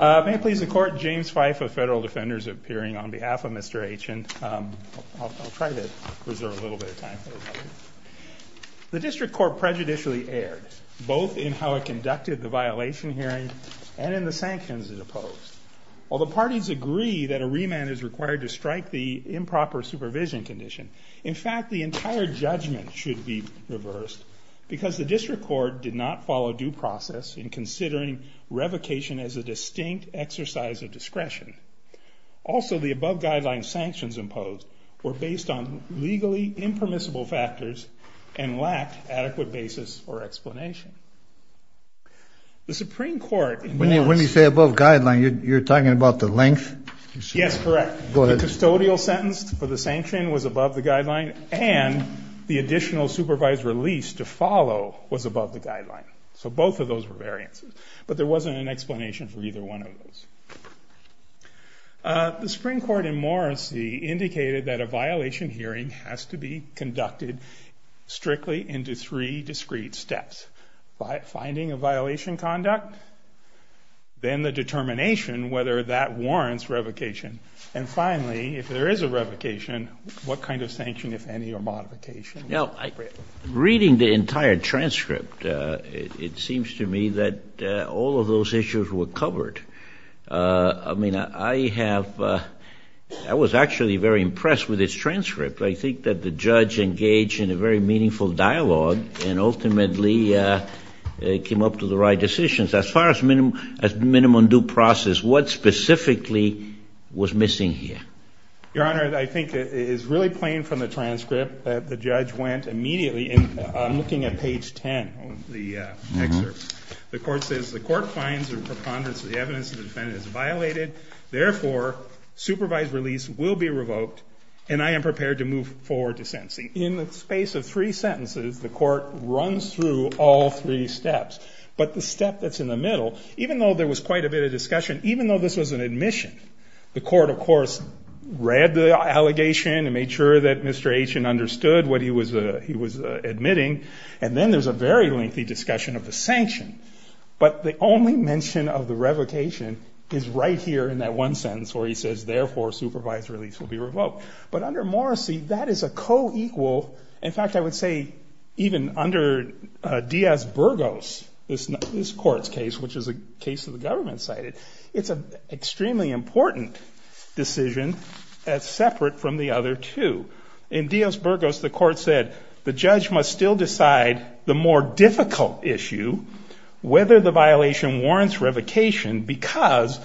May it please the court, James Fife of Federal Defenders appearing on behalf of Mr. Achin. I'll try to preserve a little bit of time for this. The district court prejudicially erred, both in how it conducted the violation hearing and in the sanctions it opposed. While the parties agree that a remand is required to strike the improper supervision condition, in fact, the entire judgment should be reversed because the district court did not follow due process in considering revocation as a distinct exercise of discretion. Also, the above guidelines sanctions imposed were based on legally impermissible factors and lacked adequate basis for explanation. The Supreme Court in... When you say above guideline, you're talking about the length? Yes, correct. Go ahead. The custodial sentence for the sanction was above the guideline and the additional supervised release to follow was above the guideline. So both of those were variances, but there wasn't an explanation for either one of those. The Supreme Court in Morrissey indicated that a violation hearing has to be conducted strictly into three discrete steps. Finding a violation conduct, then the determination whether that warrants revocation, and finally, if there is a revocation, what kind of sanction, if any, or modification? Now, reading the entire transcript, it seems to me that all of those issues were covered. I mean, I have... I was actually very impressed with this transcript. I think that the judge engaged in a very meaningful dialogue and ultimately came up to the right decisions. As far as minimum due process, what specifically was missing here? Your Honor, I think it is really plain from the transcript that the judge went immediately... I'm looking at page 10 of the excerpt. The court says, the court finds the preponderance of the evidence of the defendant is violated. Therefore, supervised release will be revoked and I am prepared to move forward to sentencing. In the space of three sentences, the court runs through all three steps. But the step that's in the middle, even though there was quite a bit of discussion, even though this was an admission, the court, of course, read the allegation and made sure that Mr. Aitchin understood what he was admitting. And then there's a very lengthy discussion of the sanction. But the only mention of the revocation is right here in that one sentence where he says, therefore, supervised release will be revoked. But under Morrissey, that is a co-equal... In fact, I would say even under Diaz-Burgos, this court's case, which is a case that the government cited, it's an extremely important decision as separate from the other two. In Diaz-Burgos, the court said, the judge must still decide the more difficult issue, whether the violation warrants revocation because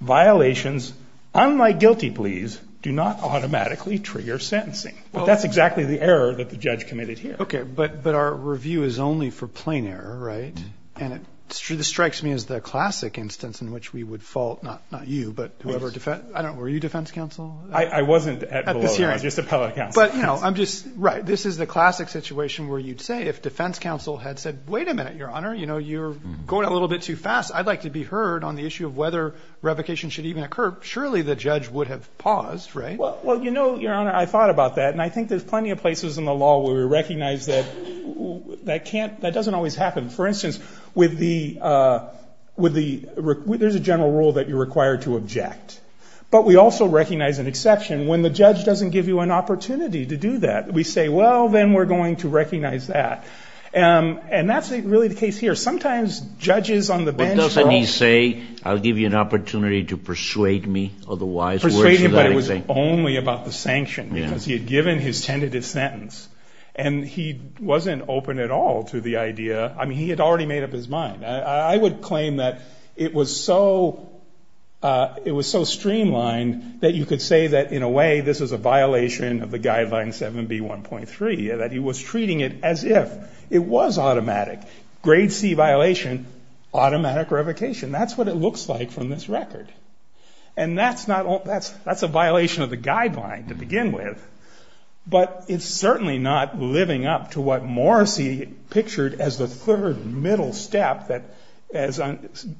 violations, unlike guilty pleas, do not automatically trigger sentencing. But that's exactly the error that the judge committed here. Okay, but our review is only for plain error, right? And it strikes me as the classic instance in which we would fault, not you, but whoever defends... At the hearing. At the hearing, just appellate counsel. But, you know, I'm just... Right, this is the classic situation where you'd say, if defense counsel had said, wait a minute, Your Honor, you know, you're going a little bit too fast. I'd like to be heard on the issue of whether revocation should even occur. Surely the judge would have paused, right? Well, you know, Your Honor, I thought about that. And I think there's plenty of places in the law where we recognize that that can't... That doesn't always happen. For instance, with the... There's a general rule that you're required to object. But we also recognize an exception when the judge doesn't give you an opportunity to do that. We say, well, then we're going to recognize that. And that's really the case here. Sometimes judges on the bench... But doesn't he say, I'll give you an opportunity to persuade me, otherwise... Persuade him, but it was only about the sanction because he had given his tentative sentence. And he wasn't open at all to the idea. I mean, he had already made up his mind. I would claim that it was so streamlined that you could say that, in a way, this is a violation of the guideline 7B1.3, that he was treating it as if it was automatic. Grade C violation, automatic revocation. That's what it looks like from this record. And that's a violation of the guideline to begin with. But it's certainly not living up to what Morrissey pictured as the third middle step that, as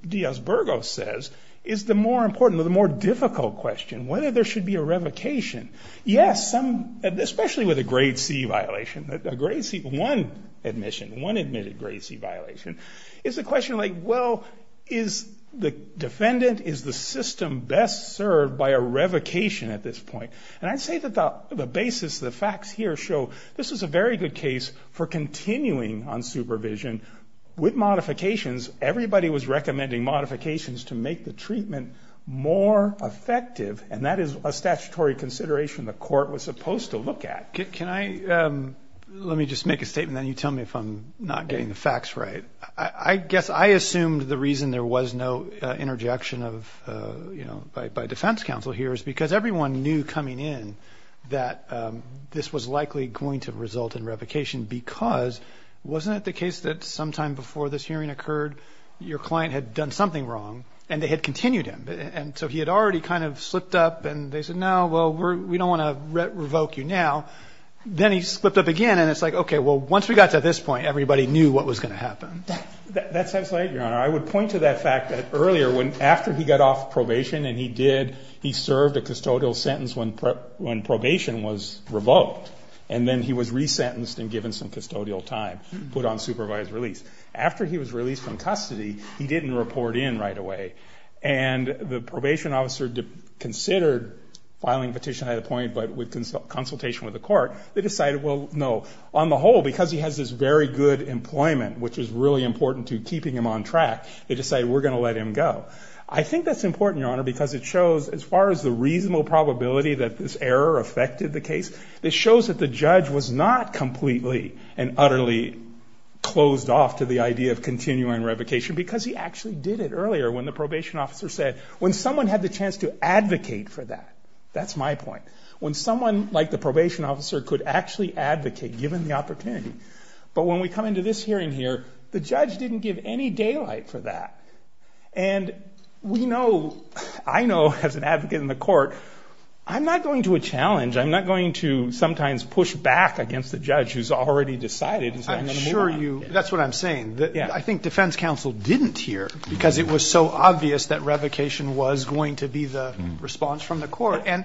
Diaz-Burgos says, is the more important or the more difficult question, whether there should be a revocation. Yes, some... Especially with a grade C violation. A grade C... One admission, one admitted grade C violation. It's a question like, well, is the defendant, is the system best served by a revocation at this point? And I'd say that the basis, the facts here show this was a very good case for continuing on supervision. With modifications, everybody was recommending modifications to make the treatment more effective, and that is a statutory consideration the court was supposed to look at. Can I... Let me just make a statement, then you tell me if I'm not getting the facts right. I guess I assumed the reason there was no interjection of, you know, by defense counsel here is because everyone knew coming in that this was likely going to result in revocation because wasn't it the case that sometime before this hearing occurred, your client had done something wrong, and they had continued him? And so he had already kind of slipped up, and they said, no, well, we don't want to revoke you now. Then he slipped up again, and it's like, okay, well, once we got to this point, everybody knew what was going to happen. That sounds right, Your Honor. I would point to that fact that earlier, after he got off probation and he did, he served a custodial sentence when probation was revoked, and then he was resentenced and given some custodial time, put on supervised release. After he was released from custody, he didn't report in right away, and the probation officer considered filing petition at a point, but with consultation with the court, they decided, well, no. On the whole, because he has this very good employment, which is really important to keeping him on track, they decided we're going to let him go. I think that's important, Your Honor, because it shows, as far as the reasonable probability that this error affected the case, it shows that the judge was not completely and utterly closed off to the idea of continuing revocation because he actually did it earlier when the probation officer said, when someone had the chance to advocate for that, that's my point, when someone like the probation officer could actually advocate given the opportunity. But when we come into this hearing here, the judge didn't give any daylight for that. And we know, I know, as an advocate in the court, I'm not going to challenge, I'm not going to sometimes push back against the judge who's already decided. I'm sure you, that's what I'm saying. I think defense counsel didn't hear because it was so obvious that revocation was going to be the response from the court. And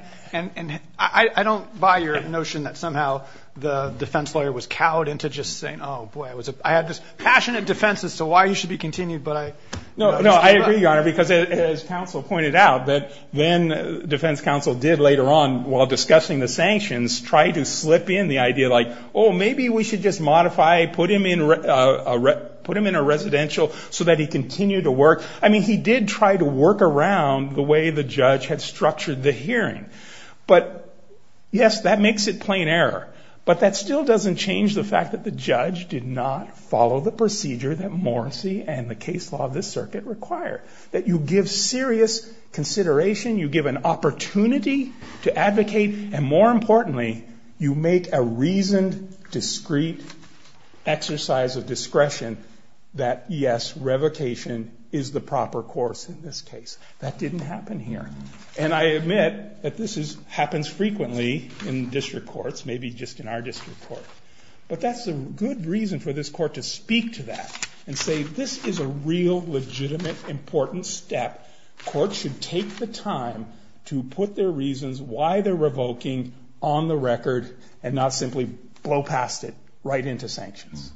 I don't buy your notion that somehow the defense lawyer was cowed into just saying, oh, boy, I had this passionate defense as to why he should be continued, but I... No, no, I agree, Your Honor, because as counsel pointed out, that then defense counsel did later on while discussing the sanctions try to slip in the idea like, oh, maybe we should just modify, put him in a residential so that he continued to work. I mean, he did try to work around the way the judge had structured the hearing. But, yes, that makes it plain error. But that still doesn't change the fact that the judge did not follow the procedure that Morrissey and the case law of this circuit require. That you give serious consideration, you give an opportunity to advocate, and more importantly, you make a reasoned, discreet exercise of discretion that, yes, revocation is the proper course in this case. That didn't happen here. And I admit that this happens frequently in district courts, maybe just in our district court. But that's a good reason for this court to speak to that. And say, this is a real, legitimate, important step. Courts should take the time to put their reasons why they're revoking on the record and not simply blow past it right into sanctions.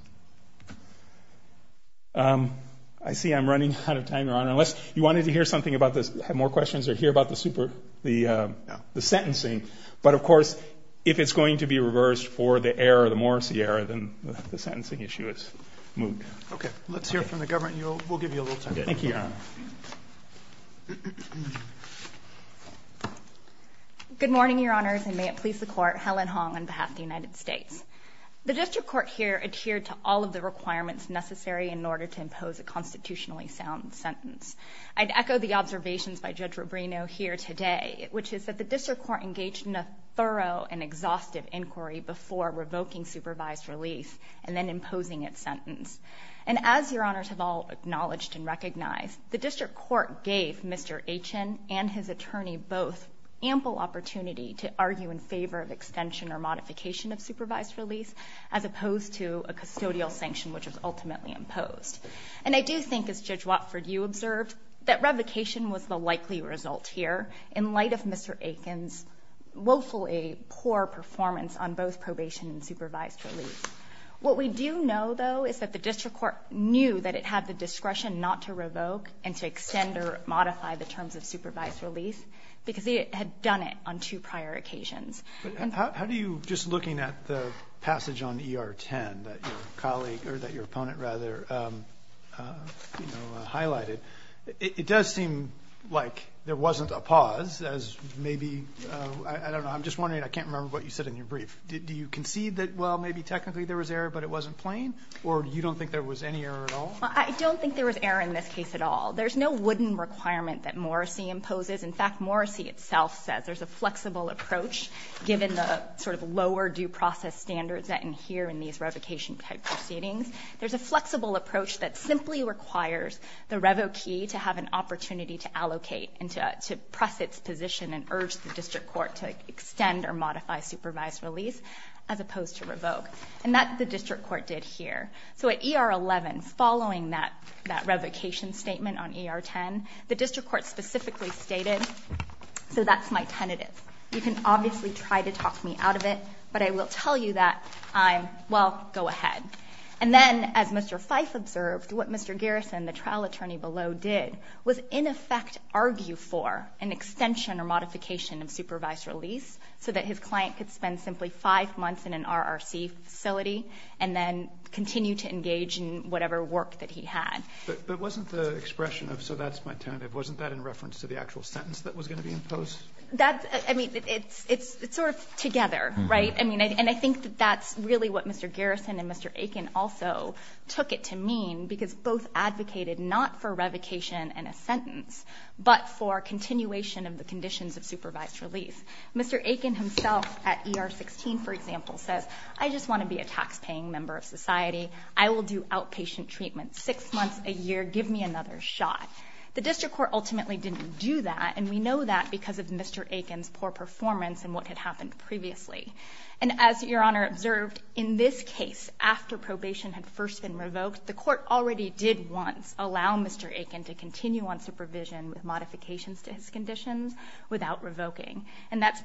I see I'm running out of time, Your Honor. Unless you wanted to hear something about this, have more questions or hear about the super, the sentencing. But, of course, if it's going to be reversed for the error, the Morrissey error, then the sentencing issue is moved. Okay. Let's hear from the government. We'll give you a little time. Thank you, Your Honor. Good morning, Your Honors, and may it please the Court. Helen Hong on behalf of the United States. The district court here adhered to all of the requirements necessary in order to impose a constitutionally sound sentence. I'd echo the observations by Judge Rubino here today, which is that the district court engaged in a thorough and exhaustive inquiry before revoking supervised relief and then imposing its sentence. And as Your Honors have all acknowledged and recognized, the district court gave Mr. Achen and his attorney both ample opportunity to argue in favor of extension or modification of supervised relief as opposed to a custodial sanction which was ultimately imposed. And I do think, as Judge Watford, you observed, that revocation was the likely result here in light of Mr. Achen's woefully poor performance on both probation and supervised relief. What we do know, though, is that the district court knew that it had the discretion not to revoke and to extend or modify the terms of supervised relief because it had done it on two prior occasions. How do you, just looking at the passage on ER 10 that your opponent highlighted, it does seem like there wasn't a pause as maybe... I don't know. I'm just wondering. I can't remember what you said in your brief. Do you concede that, well, maybe technically there was error, but it wasn't plain? Or you don't think there was any error at all? I don't think there was error in this case at all. There's no wooden requirement that Morrissey imposes. In fact, Morrissey itself says there's a flexible approach given the sort of lower due process standards that adhere in these revocation-type proceedings. There's a flexible approach that simply requires the revokee to have an opportunity to allocate and to press its position and urge the district court to extend or modify supervised release as opposed to revoke. And that's what the district court did here. So at ER 11, following that revocation statement on ER 10, the district court specifically stated, so that's my tentative. You can obviously try to talk me out of it, but I will tell you that I'm, well, go ahead. And then, as Mr. Fyfe observed, what Mr. Garrison, the trial attorney below, did was in effect argue for an extension or modification of supervised release so that his client could spend simply five months in an RRC facility and then continue to engage in whatever work that he had. But wasn't the expression of, so that's my tentative, wasn't that in reference to the actual sentence that was going to be imposed? That's, I mean, it's sort of together, right? And I think that that's really what Mr. Garrison and Mr. Aiken also took it to mean, because both advocated not for revocation and a sentence, but for continuation of the conditions of supervised release. Mr. Aiken himself at ER 16, for example, says, I just want to be a taxpaying member of society. I will do outpatient treatment six months a year. Give me another shot. The district court ultimately didn't do that, and we know that because of Mr. Aiken's poor performance in what had happened previously. And as Your Honor observed, in this case, after probation had first been revoked, the court already did once allow Mr. Aiken to continue on supervision with modifications to his conditions without revoking. And that's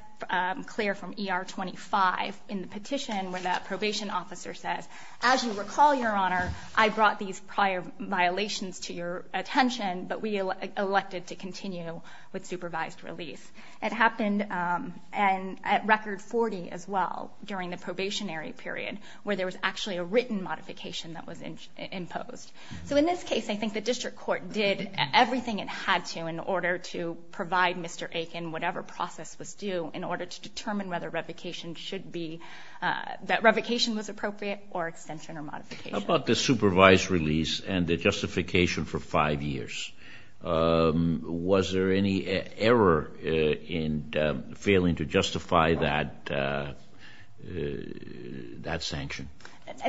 clear from ER 25 in the petition where that probation officer says, as you recall, Your Honor, I brought these prior violations to your attention, but we elected to continue with supervised release. It happened at Record 40 as well during the probationary period where there was actually a written modification that was imposed. So in this case, I think the district court did everything it had to in order to provide Mr. Aiken whatever process was due in order to determine whether revocation should be, that revocation was appropriate or extension or modification. How about the supervised release and the justification for five years? Was there any error in failing to justify that sanction?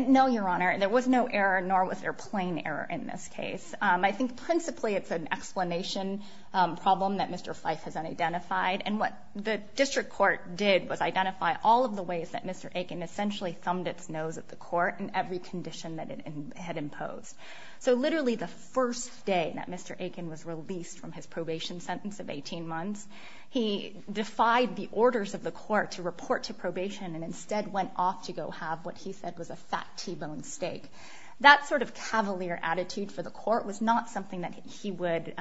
No, Your Honor. There was no error, nor was there plain error in this case. I think principally it's an explanation problem that Mr. Fife has unidentified. And what the district court did was identify all of the ways that Mr. Aiken essentially thumbed its nose at the court in every condition that it had imposed. So literally the first day that Mr. Aiken was released from his probation sentence of 18 months, he defied the orders of the court to report to probation and instead went off to go have what he said was a fat T-bone steak. That sort of cavalier attitude for the court was not something that he would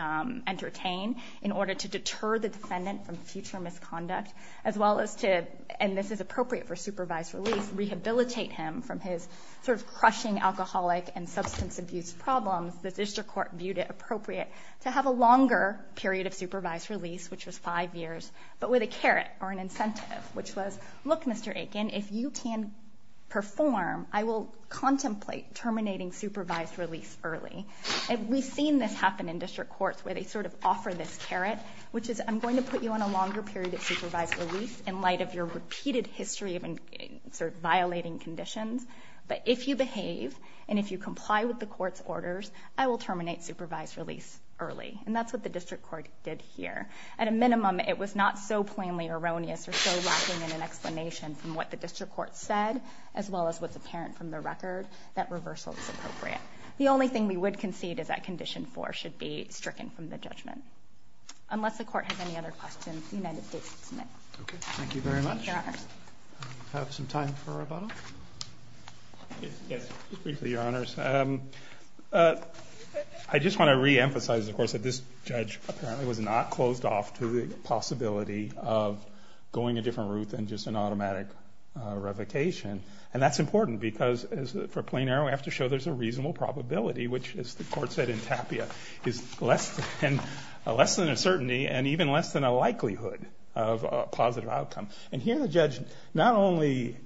entertain in order to deter the defendant from future misconduct as well as to, and this is appropriate for supervised release, rehabilitate him from his sort of crushing alcoholic and substance abuse problems. The district court viewed it appropriate to have a longer period of supervised release, which was five years, but with a carrot or an incentive, which was, look, Mr. Aiken, if you can perform, I will contemplate terminating supervised release early. And we've seen this happen in district courts where they sort of offer this carrot, which is I'm going to put you on a longer period of supervised release in light of your repeated history of sort of violating conditions, but if you behave and if you comply with the court's orders, I will terminate supervised release early. And that's what the district court did here. At a minimum, it was not so plainly erroneous or so lacking in an explanation from what the district court said as well as what's apparent from the record that reversal is appropriate. The only thing we would concede is that condition four should be stricken from the judgment. Unless the court has any other questions, the United States is admitted. Okay, thank you very much. Thank you, Your Honors. Do we have some time for rebuttal? Yes, briefly, Your Honors. I just want to reemphasize, of course, that this judge apparently was not closed off to the possibility of going a different route than just an automatic revocation. And that's important because for plain error, we have to show there's a reasonable probability, which, as the court said in Tapia, is less than a certainty and even less than a likelihood of a positive outcome. And here the judge not only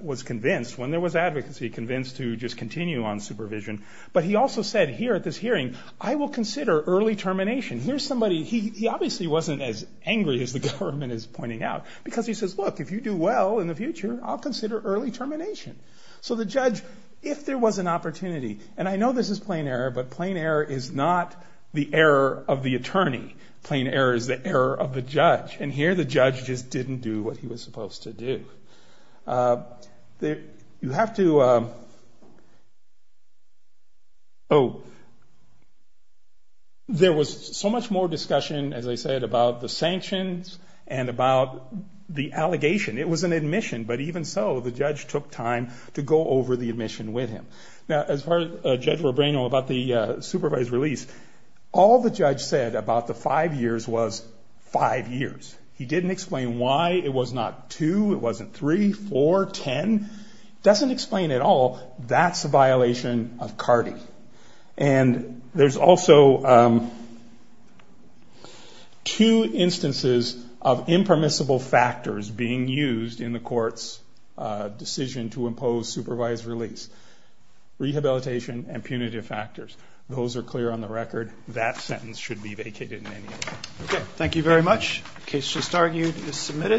was convinced, when there was advocacy, convinced to just continue on supervision, but he also said here at this hearing, I will consider early termination. He obviously wasn't as angry as the government is pointing out because he says, look, if you do well in the future, I'll consider early termination. So the judge, if there was an opportunity, and I know this is plain error, but plain error is not the error of the attorney. Plain error is the error of the judge. And here the judge just didn't do what he was supposed to do. You have to... Oh. There was so much more discussion, as I said, about the sanctions and about the allegation. It was an admission, but even so, the judge took time to go over the admission with him. Now, as far as Judge Robreno, about the supervised release, all the judge said about the five years was five years. He didn't explain why it was not two, it wasn't three, four, ten. He doesn't explain it all. That's a violation of CARDI. And there's also... two instances of impermissible factors being used in the court's decision to impose supervised release. Rehabilitation and punitive factors. Those are clear on the record. That sentence should be vacated in any event. Thank you very much. The case just argued is submitted.